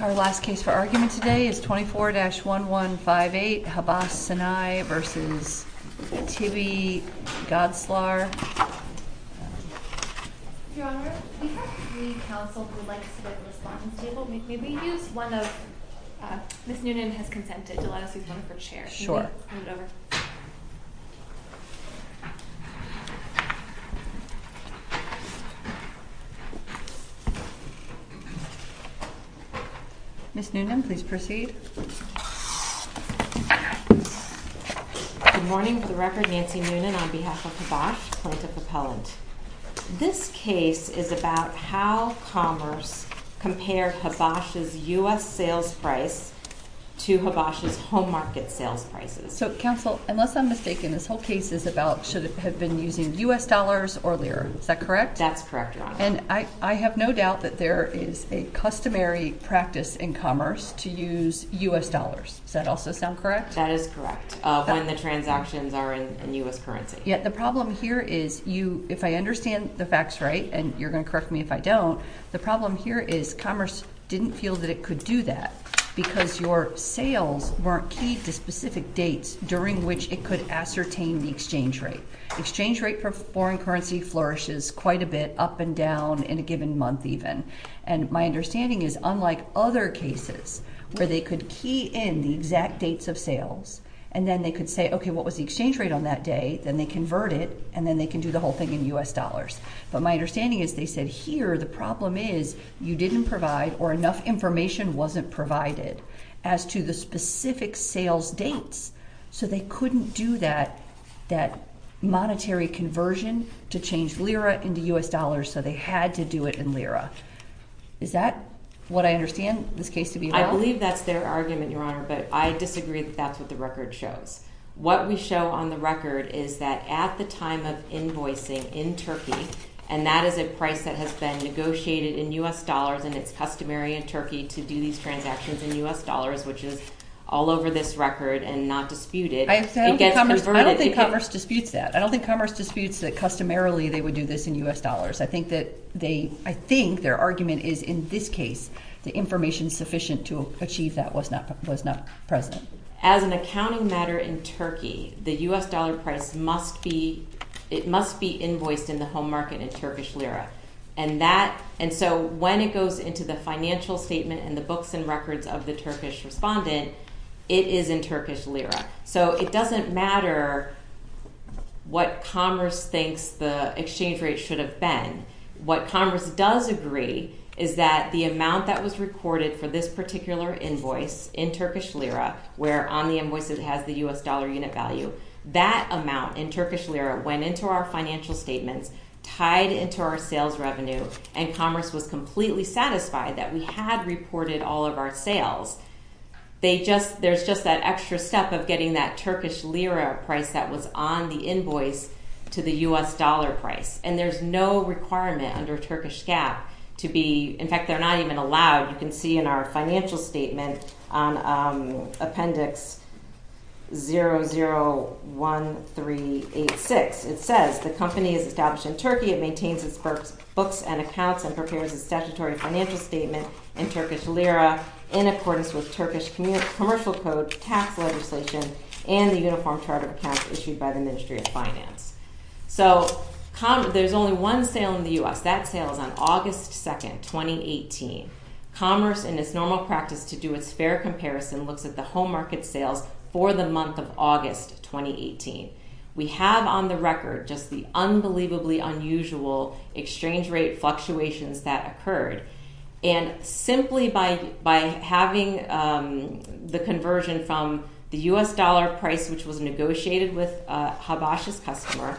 Our last case for argument today is 24-1158, Habas Sinai v. Tibbi Gazlar Your Honor, we have three counsel who would like to submit a response table. Maybe we can use one of... Ms. Noonan has consented to let us use one of her chairs. Sure. Ms. Noonan, please proceed. Good morning. For the record, Nancy Noonan on behalf of Habas, plaintiff appellant. This case is about how commerce compared Habas' U.S. sales price to Habas' home market sales prices. So, counsel, unless I'm mistaken, this whole case is about should it have been using U.S. dollars or lira. Is that correct? That's correct, Your Honor. And I have no doubt that there is a customary practice in commerce to use U.S. dollars. Does that also sound correct? That is correct, when the transactions are in U.S. currency. The problem here is if I understand the facts right, and you're going to correct me if I don't, the problem here is commerce didn't feel that it could do that because your sales weren't key to specific dates during which it could ascertain the exchange rate. Exchange rate for foreign currency flourishes quite a bit up and down in a given month even. And my understanding is unlike other cases where they could key in the exact dates of sales and then they could say, okay, what was the exchange rate on that day? Then they convert it and then they can do the whole thing in U.S. dollars. But my understanding is they said here the problem is you didn't provide or enough information wasn't provided as to the specific sales dates. So they couldn't do that monetary conversion to change lira into U.S. dollars, so they had to do it in lira. Is that what I understand this case to be about? I believe that's their argument, Your Honor, but I disagree that that's what the record shows. What we show on the record is that at the time of invoicing in Turkey, and that is a price that has been negotiated in U.S. dollars and it's customary in Turkey to do these transactions in U.S. dollars, which is all over this record and not disputed. I don't think Commerce disputes that. I don't think Commerce disputes that customarily they would do this in U.S. dollars. I think their argument is in this case the information sufficient to achieve that was not present. As an accounting matter in Turkey, the U.S. dollar price must be invoiced in the home market in Turkish lira. And so when it goes into the financial statement and the books and records of the Turkish respondent, it is in Turkish lira. So it doesn't matter what Commerce thinks the exchange rate should have been. What Commerce does agree is that the amount that was recorded for this particular invoice in Turkish lira, where on the invoice it has the U.S. dollar unit value, that amount in Turkish lira went into our financial statements, tied into our sales revenue, and Commerce was completely satisfied that we had reported all of our sales. There's just that extra step of getting that Turkish lira price that was on the invoice to the U.S. dollar price. And there's no requirement under Turkish GAAP to be – in fact, they're not even allowed. You can see in our financial statement on Appendix 001386, it says the company is established in Turkey. It maintains its books and accounts and prepares a statutory financial statement in Turkish lira in accordance with Turkish commercial code, tax legislation, and the uniform chart of accounts issued by the Ministry of Finance. So there's only one sale in the U.S. That sale is on August 2nd, 2018. Commerce, in its normal practice to do its fair comparison, looks at the home market sales for the month of August 2018. We have on the record just the unbelievably unusual exchange rate fluctuations that occurred. And simply by having the conversion from the U.S. dollar price, which was negotiated with Habash's customer,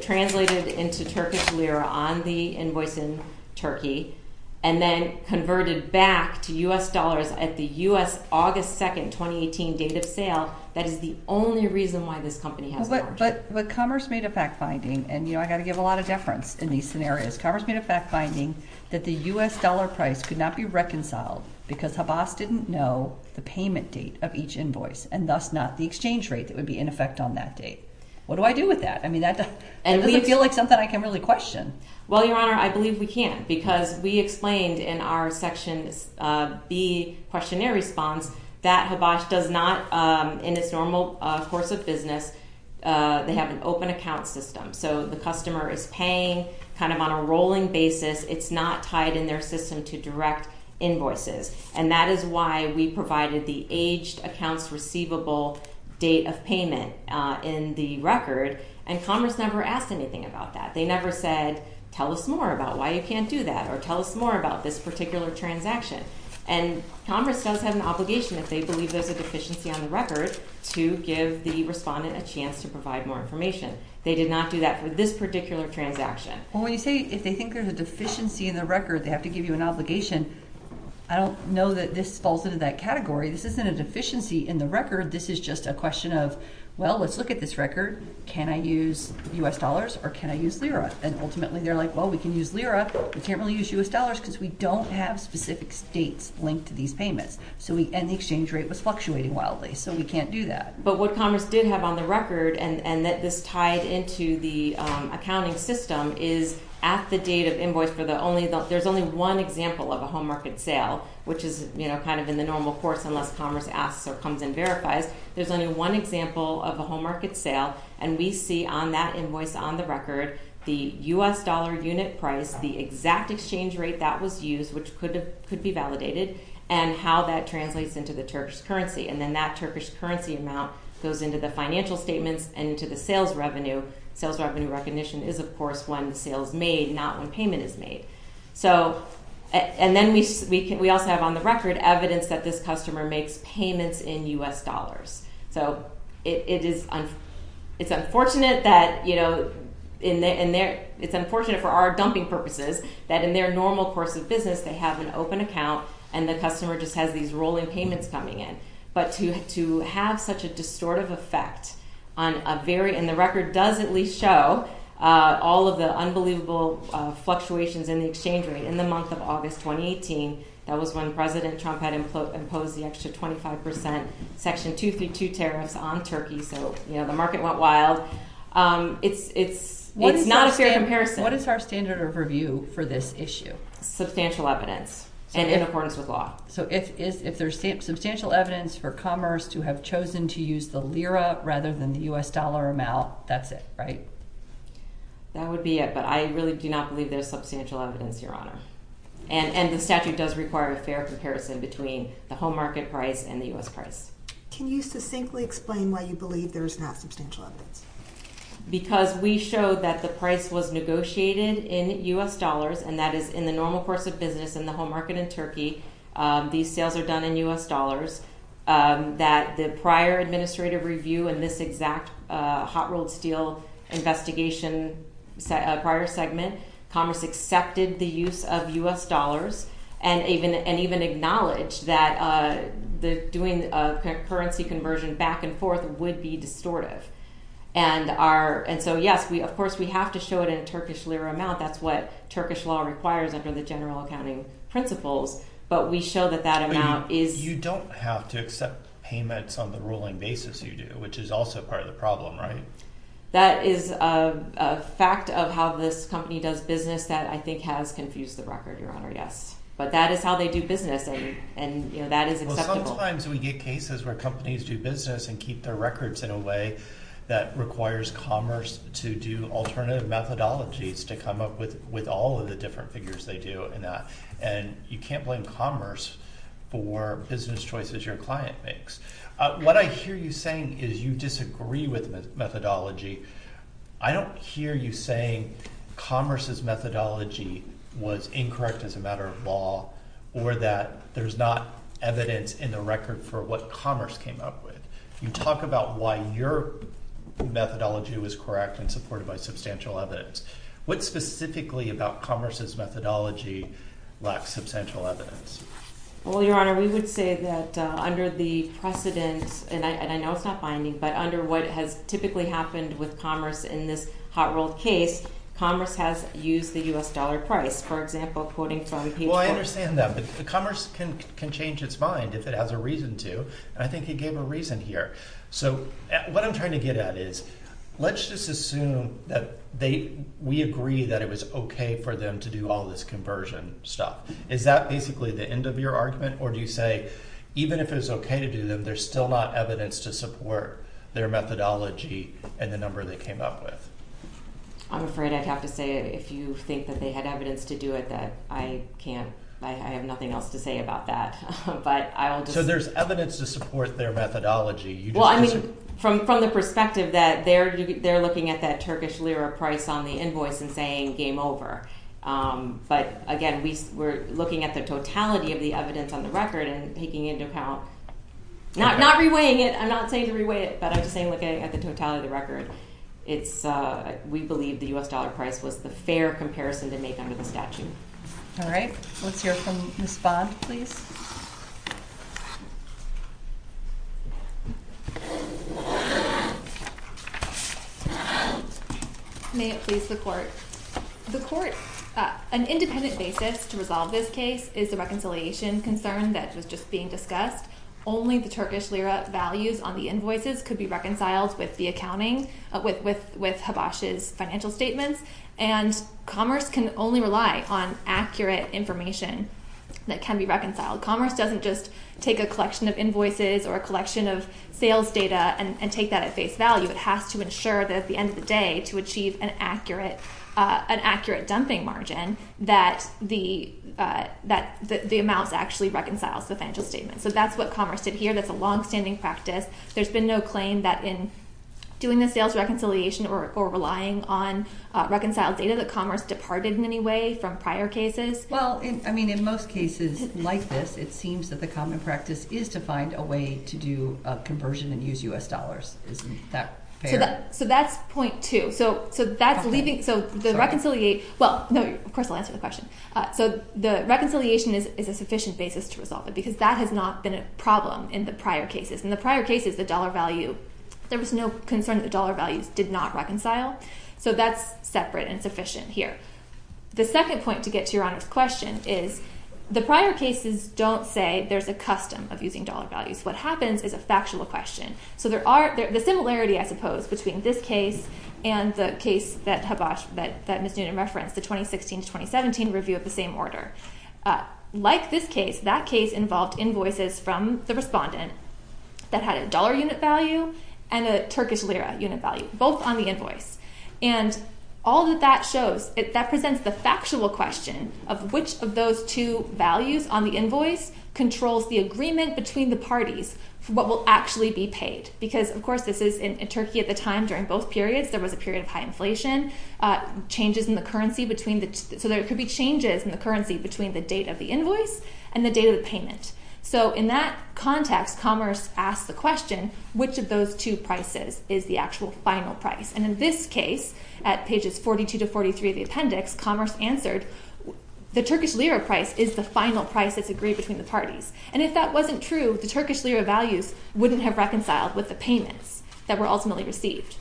translated into Turkish lira on the invoice in Turkey, and then converted back to U.S. dollars at the U.S. August 2nd, 2018 date of sale, that is the only reason why this company has a margin. But Commerce made a fact-finding, and, you know, I've got to give a lot of deference in these scenarios. Commerce made a fact-finding that the U.S. dollar price could not be reconciled because Habash didn't know the payment date of each invoice, and thus not the exchange rate that would be in effect on that date. What do I do with that? I mean, that doesn't feel like something I can really question. Well, Your Honor, I believe we can because we explained in our Section B questionnaire response that Habash does not, in its normal course of business, they have an open account system. So the customer is paying kind of on a rolling basis. It's not tied in their system to direct invoices. And that is why we provided the aged accounts receivable date of payment in the record, and Commerce never asked anything about that. They never said, tell us more about why you can't do that, or tell us more about this particular transaction. And Commerce does have an obligation, if they believe there's a deficiency on the record, to give the respondent a chance to provide more information. They did not do that for this particular transaction. Well, when you say, if they think there's a deficiency in the record, they have to give you an obligation, I don't know that this falls into that category. This isn't a deficiency in the record. This is just a question of, well, let's look at this record. Can I use U.S. dollars or can I use Lira? And ultimately, they're like, well, we can use Lira. We can't really use U.S. dollars because we don't have specific states linked to these payments. And the exchange rate was fluctuating wildly, so we can't do that. But what Commerce did have on the record and that this tied into the accounting system is at the date of invoice, there's only one example of a home market sale, which is kind of in the normal course unless Commerce asks or comes and verifies. There's only one example of a home market sale, and we see on that invoice on the record the U.S. dollar unit price, the exact exchange rate that was used, which could be validated, and how that translates into the Turkish currency. And then that Turkish currency amount goes into the financial statements and into the sales revenue. Sales revenue recognition is, of course, when the sale is made, not when payment is made. And then we also have on the record evidence that this customer makes payments in U.S. dollars. So it's unfortunate for our dumping purposes that in their normal course of business, they have an open account and the customer just has these rolling payments coming in. But to have such a distortive effect on a very, and the record does at least show, all of the unbelievable fluctuations in the exchange rate in the month of August 2018, that was when President Trump had imposed the extra 25% Section 232 tariffs on Turkey. So, you know, the market went wild. It's not a fair comparison. What is our standard of review for this issue? Substantial evidence and in accordance with law. So if there's substantial evidence for commerce to have chosen to use the lira rather than the U.S. dollar amount, that's it, right? That would be it. But I really do not believe there's substantial evidence, Your Honor. And the statute does require a fair comparison between the home market price and the U.S. price. Can you succinctly explain why you believe there is not substantial evidence? Because we show that the price was negotiated in U.S. dollars, and that is in the normal course of business in the home market in Turkey. These sales are done in U.S. dollars. That the prior administrative review in this exact hot rolled steel investigation prior segment, commerce accepted the use of U.S. dollars and even acknowledged that doing a currency conversion back and forth would be distortive. And so, yes, of course, we have to show it in a Turkish lira amount. That's what Turkish law requires under the general accounting principles. But we show that that amount is... You don't have to accept payments on the ruling basis you do, which is also part of the problem, right? That is a fact of how this company does business that I think has confused the record, Your Honor, yes. But that is how they do business, and that is acceptable. Well, sometimes we get cases where companies do business and keep their records in a way that requires commerce to do alternative methodologies to come up with all of the different figures they do in that. And you can't blame commerce for business choices your client makes. What I hear you saying is you disagree with the methodology. I don't hear you saying commerce's methodology was incorrect as a matter of law or that there's not evidence in the record for what commerce came up with. You talk about why your methodology was correct and supported by substantial evidence. What specifically about commerce's methodology lacks substantial evidence? Well, Your Honor, we would say that under the precedent, and I know it's not binding, but under what has typically happened with commerce in this hot-rolled case, commerce has used the U.S. dollar price, for example, quoting from... Well, I understand that, but commerce can change its mind if it has a reason to. And I think you gave a reason here. So what I'm trying to get at is let's just assume that we agree that it was okay for them to do all this conversion stuff. Is that basically the end of your argument, or do you say even if it was okay to do them, there's still not evidence to support their methodology and the number they came up with? I'm afraid I'd have to say if you think that they had evidence to do it, that I can't. I have nothing else to say about that. So there's evidence to support their methodology. Well, I mean, from the perspective that they're looking at that Turkish lira price on the invoice and saying game over. But, again, we're looking at the totality of the evidence on the record and taking into account... Not reweighing it. I'm not saying to reweigh it, but I'm just saying looking at the totality of the record, we believe the U.S. dollar price was the fair comparison to make under the statute. All right. Let's hear from Ms. Bond, please. May it please the court. The court, an independent basis to resolve this case is the reconciliation concern that was just being discussed. Only the Turkish lira values on the invoices could be reconciled with the accounting, with Habash's financial statements. And commerce can only rely on accurate information that can be reconciled. Commerce doesn't just take a collection of invoices or a collection of sales data and take that at face value. It has to ensure that at the end of the day to achieve an accurate dumping margin that the amounts actually reconciles the financial statements. So that's what commerce did here. That's a longstanding practice. There's been no claim that in doing the sales reconciliation or relying on reconciled data that commerce departed in any way from prior cases. Well, I mean, in most cases like this, it seems that the common practice is to find a way to do a conversion and use U.S. dollars. Isn't that fair? So that's point two. So that's leaving... So the reconciliate... Well, no, of course I'll answer the question. So the reconciliation is a sufficient basis to resolve it because that has not been a problem in the prior cases. In the prior cases, the dollar value, there was no concern that the dollar values did not reconcile. So that's separate and sufficient here. The second point to get to Your Honor's question is the prior cases don't say there's a custom of using dollar values. What happens is a factual question. So there are... The similarity, I suppose, between this case and the case that Ms. Noonan referenced, the 2016-2017 review of the same order. Like this case, that case involved invoices from the respondent that had a dollar unit value and a Turkish lira unit value, both on the invoice. And all that that shows, that presents the factual question of which of those two values on the invoice controls the agreement between the parties for what will actually be paid. Because, of course, this is in Turkey at the time during both periods. There was a period of high inflation. Changes in the currency between the... So there could be changes in the currency between the date of the invoice and the date of the payment. So in that context, Commerce asked the question, which of those two prices is the actual final price? And in this case, at pages 42 to 43 of the appendix, Commerce answered, the Turkish lira price is the final price that's agreed between the parties. And if that wasn't true, the Turkish lira values wouldn't have reconciled with the payments that were ultimately received.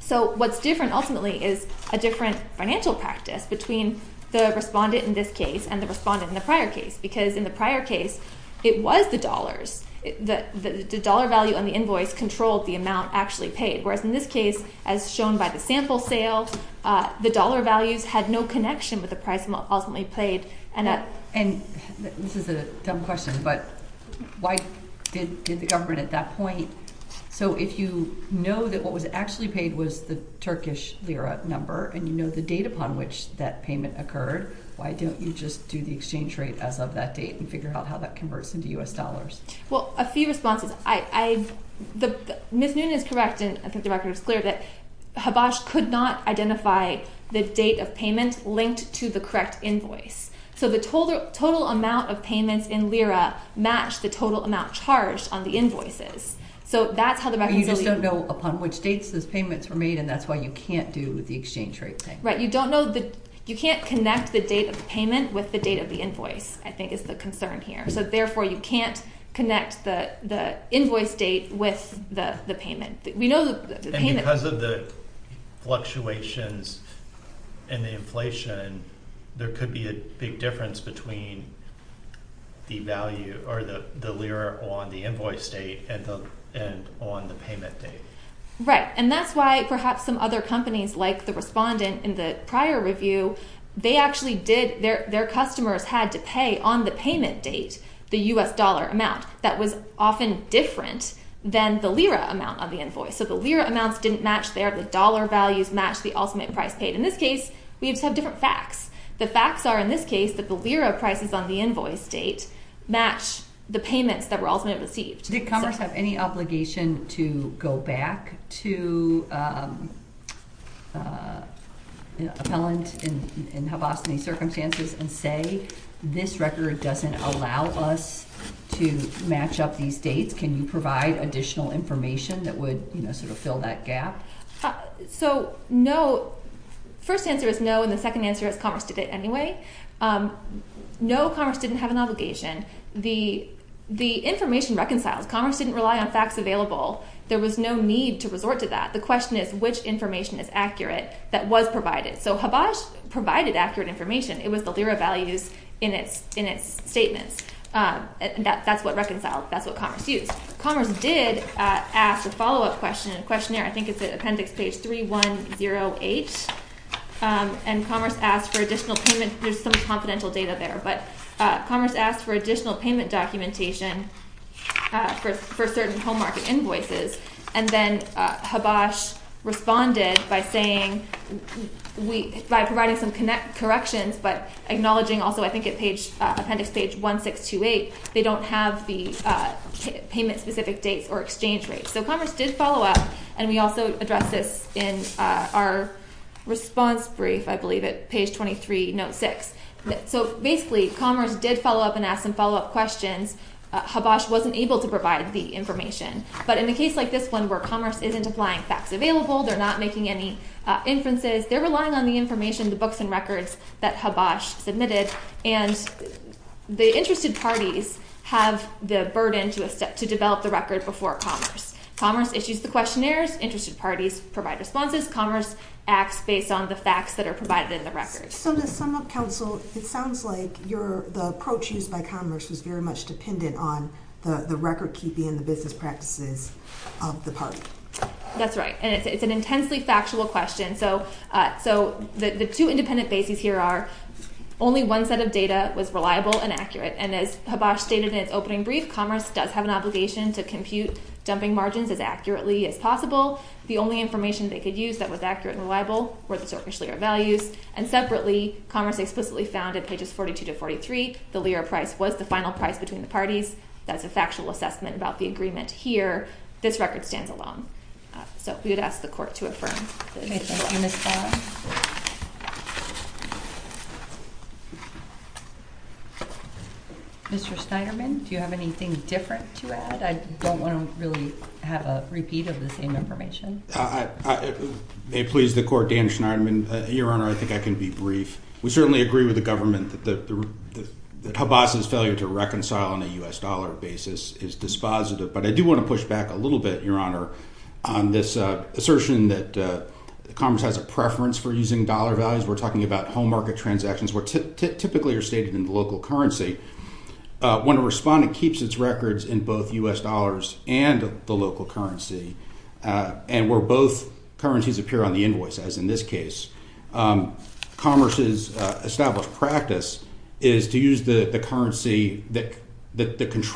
So what's different ultimately is a different financial practice between the respondent in this case and the respondent in the prior case. Because in the prior case, it was the dollars. The dollar value on the invoice controlled the amount actually paid, whereas in this case, as shown by the sample sale, the dollar values had no connection with the price ultimately paid. And this is a dumb question, but why did the government at that point... If what you actually paid was the Turkish lira number and you know the date upon which that payment occurred, why don't you just do the exchange rate as of that date and figure out how that converts into U.S. dollars? Well, a few responses. Ms. Noonan is correct, and I think the record is clear, that Habash could not identify the date of payment linked to the correct invoice. So the total amount of payments in lira matched the total amount charged on the invoices. You just don't know upon which dates those payments were made, and that's why you can't do the exchange rate thing. Right. You can't connect the date of the payment with the date of the invoice, I think is the concern here. So therefore, you can't connect the invoice date with the payment. And because of the fluctuations in the inflation, there could be a big difference between the value or the lira on the invoice date and on the payment date. Right. And that's why perhaps some other companies, like the respondent in the prior review, their customers had to pay on the payment date the U.S. dollar amount. That was often different than the lira amount on the invoice. So the lira amounts didn't match there. The dollar values matched the ultimate price paid. In this case, we just have different facts. The facts are, in this case, that the lira prices on the invoice date match the payments that were ultimately received. Did Commerce have any obligation to go back to an appellant in Havasini circumstances and say, this record doesn't allow us to match up these dates? Can you provide additional information that would sort of fill that gap? So no. First answer is no, and the second answer is Commerce did it anyway. No, Commerce didn't have an obligation. The information reconciles. Commerce didn't rely on facts available. There was no need to resort to that. The question is, which information is accurate that was provided? So Havas provided accurate information. It was the lira values in its statements. That's what reconciled. That's what Commerce used. Commerce did ask a follow-up question in a questionnaire. I think it's at appendix page 3108. And Commerce asked for additional payment. There's some confidential data there. But Commerce asked for additional payment documentation for certain home market invoices. And then Havas responded by saying, by providing some corrections but acknowledging also, I think at appendix page 1628, they don't have the payment-specific dates or exchange rates. So Commerce did follow up, and we also addressed this in our response brief, I believe, at page 23, note 6. So basically Commerce did follow up and ask some follow-up questions. Havas wasn't able to provide the information. But in a case like this one where Commerce isn't applying facts available, they're not making any inferences, they're relying on the information, the books and records that Havas submitted. And the interested parties have the burden to develop the record before Commerce. Commerce issues the questionnaires. Interested parties provide responses. Commerce acts based on the facts that are provided in the record. So to sum up, Counsel, it sounds like the approach used by Commerce was very much dependent on the record-keeping and the business practices of the party. That's right. And it's an intensely factual question. So the two independent bases here are only one set of data was reliable and accurate. And as Havas stated in its opening brief, Commerce does have an obligation to compute dumping margins as accurately as possible. The only information they could use that was accurate and reliable were the Zorkish lira values. And separately, Commerce explicitly found at pages 42 to 43, the lira price was the final price between the parties. That's a factual assessment about the agreement here. This record stands alone. So we would ask the Court to affirm. Thank you, Ms. Farr. Mr. Steinerman, do you have anything different to add? I don't want to really have a repeat of the same information. May it please the Court, Dan Steinerman. Your Honor, I think I can be brief. We certainly agree with the government that Havas's failure to reconcile on a U.S. dollar basis is dispositive. But I do want to push back a little bit, Your Honor, on this assertion that Commerce has a preference for using dollar values. We're talking about home market transactions where typically are stated in the local currency. When a respondent keeps its records in both U.S. dollars and the local currency, and where both currencies appear on the invoice, as in this case, Commerce's established practice is to use the currency,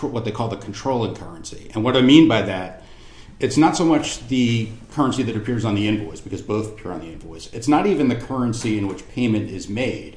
what they call the controlling currency. And what I mean by that, it's not so much the currency that appears on the invoice because both appear on the invoice. It's not even the currency in which payment is made.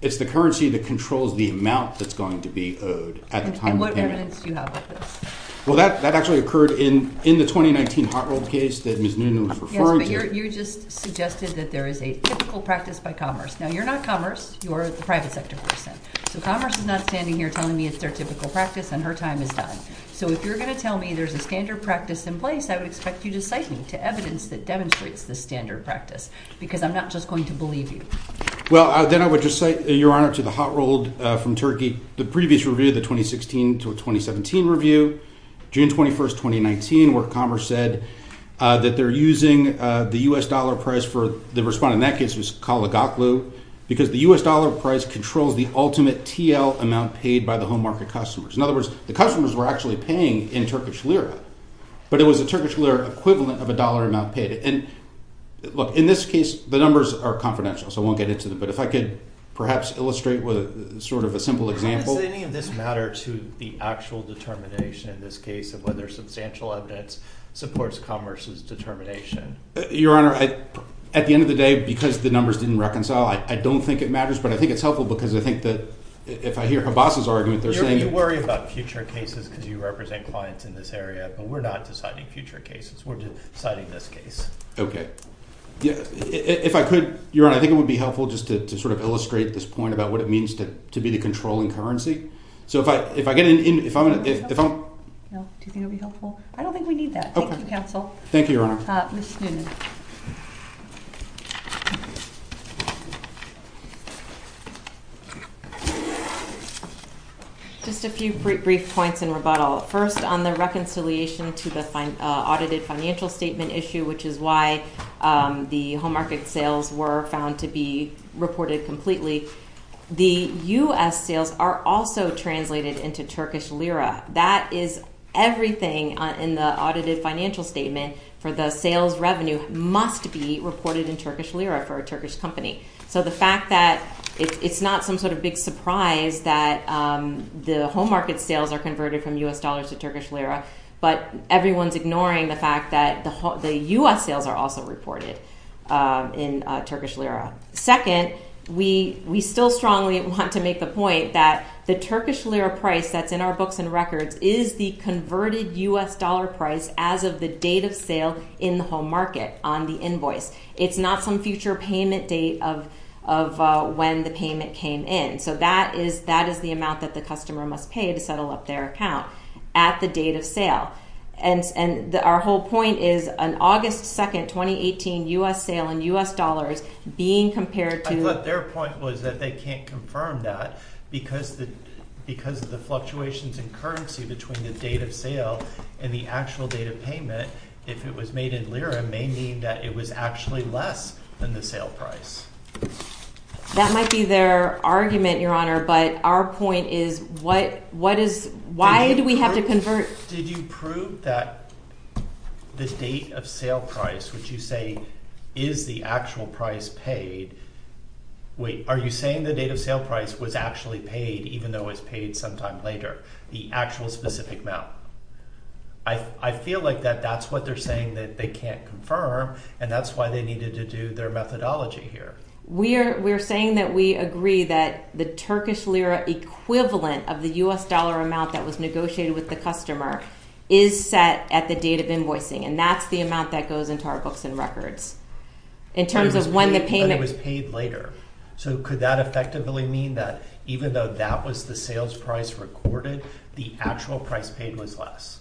It's the currency that controls the amount that's going to be owed at the time of payment. And what evidence do you have of this? Well, that actually occurred in the 2019 Hot Rolls case that Ms. Newman was referring to. Yes, but you just suggested that there is a typical practice by Commerce. Now, you're not Commerce. You're the private sector person. So Commerce is not standing here telling me it's their typical practice and her time is done. So if you're going to tell me there's a standard practice in place, I would expect you to cite me to evidence that demonstrates this standard practice. Because I'm not just going to believe you. Well, then I would just say, Your Honor, to the Hot Roll from Turkey, the previous review, the 2016 to 2017 review, June 21st, 2019, where Commerce said that they're using the U.S. dollar price for the respondent. In that case, it was Kalagaklu because the U.S. dollar price controls the ultimate TL amount paid by the home market customers. In other words, the customers were actually paying in Turkish Lira, but it was a Turkish Lira equivalent of a dollar amount paid. And look, in this case, the numbers are confidential, so I won't get into them. But if I could perhaps illustrate with sort of a simple example. Does any of this matter to the actual determination in this case of whether substantial evidence supports Commerce's determination? Your Honor, at the end of the day, because the numbers didn't reconcile, I don't think it matters. But I think it's helpful because I think that if I hear Habas's argument, they're saying – because you represent clients in this area, but we're not deciding future cases. We're deciding this case. Okay. If I could, Your Honor, I think it would be helpful just to sort of illustrate this point about what it means to be the controlling currency. So if I get in – Do you think it would be helpful? I don't think we need that. Thank you, counsel. Thank you, Your Honor. Ms. Snowden. Just a few brief points in rebuttal. First, on the reconciliation to the audited financial statement issue, which is why the home market sales were found to be reported completely, the U.S. sales are also translated into Turkish Lira. That is everything in the audited financial statement for the sales revenue must be reported in Turkish Lira for a Turkish company. So the fact that it's not some sort of big surprise that the home market sales are converted from U.S. dollars to Turkish Lira, but everyone's ignoring the fact that the U.S. sales are also reported in Turkish Lira. Second, we still strongly want to make the point that the Turkish Lira price that's in our books and records is the converted U.S. dollar price as of the date of sale in the home market on the invoice. It's not some future payment date of when the payment came in. So that is the amount that the customer must pay to settle up their account at the date of sale. And our whole point is an August 2nd, 2018 U.S. sale in U.S. dollars being compared to- But their point was that they can't confirm that because of the fluctuations in currency between the date of sale and the actual date of payment. If it was made in Lira, it may mean that it was actually less than the sale price. That might be their argument, Your Honor, but our point is why do we have to convert- Did you prove that the date of sale price, which you say is the actual price paid- Wait, are you saying the date of sale price was actually paid even though it's paid sometime later, the actual specific amount? I feel like that that's what they're saying that they can't confirm, and that's why they needed to do their methodology here. We're saying that we agree that the Turkish Lira equivalent of the U.S. dollar amount that was negotiated with the customer is set at the date of invoicing, and that's the amount that goes into our books and records in terms of when the payment- But it was paid later. So could that effectively mean that even though that was the sales price recorded, the actual price paid was less?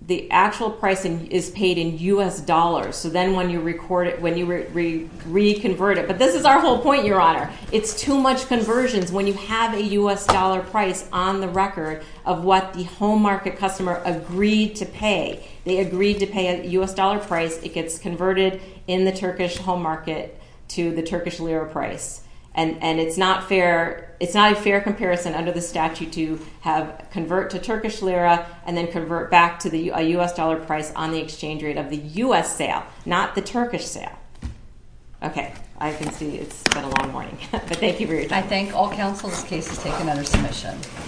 The actual pricing is paid in U.S. dollars, so then when you record it, when you reconvert it- But this is our whole point, Your Honor. It's too much conversions when you have a U.S. dollar price on the record of what the home market customer agreed to pay. They agreed to pay a U.S. dollar price. It gets converted in the Turkish home market to the Turkish Lira price, and it's not a fair comparison under the statute to convert to Turkish Lira and then convert back to a U.S. dollar price on the exchange rate of the U.S. sale, not the Turkish sale. Okay, I can see it's been a long morning, but thank you for your time. I thank all counsels. This case is taken under submission.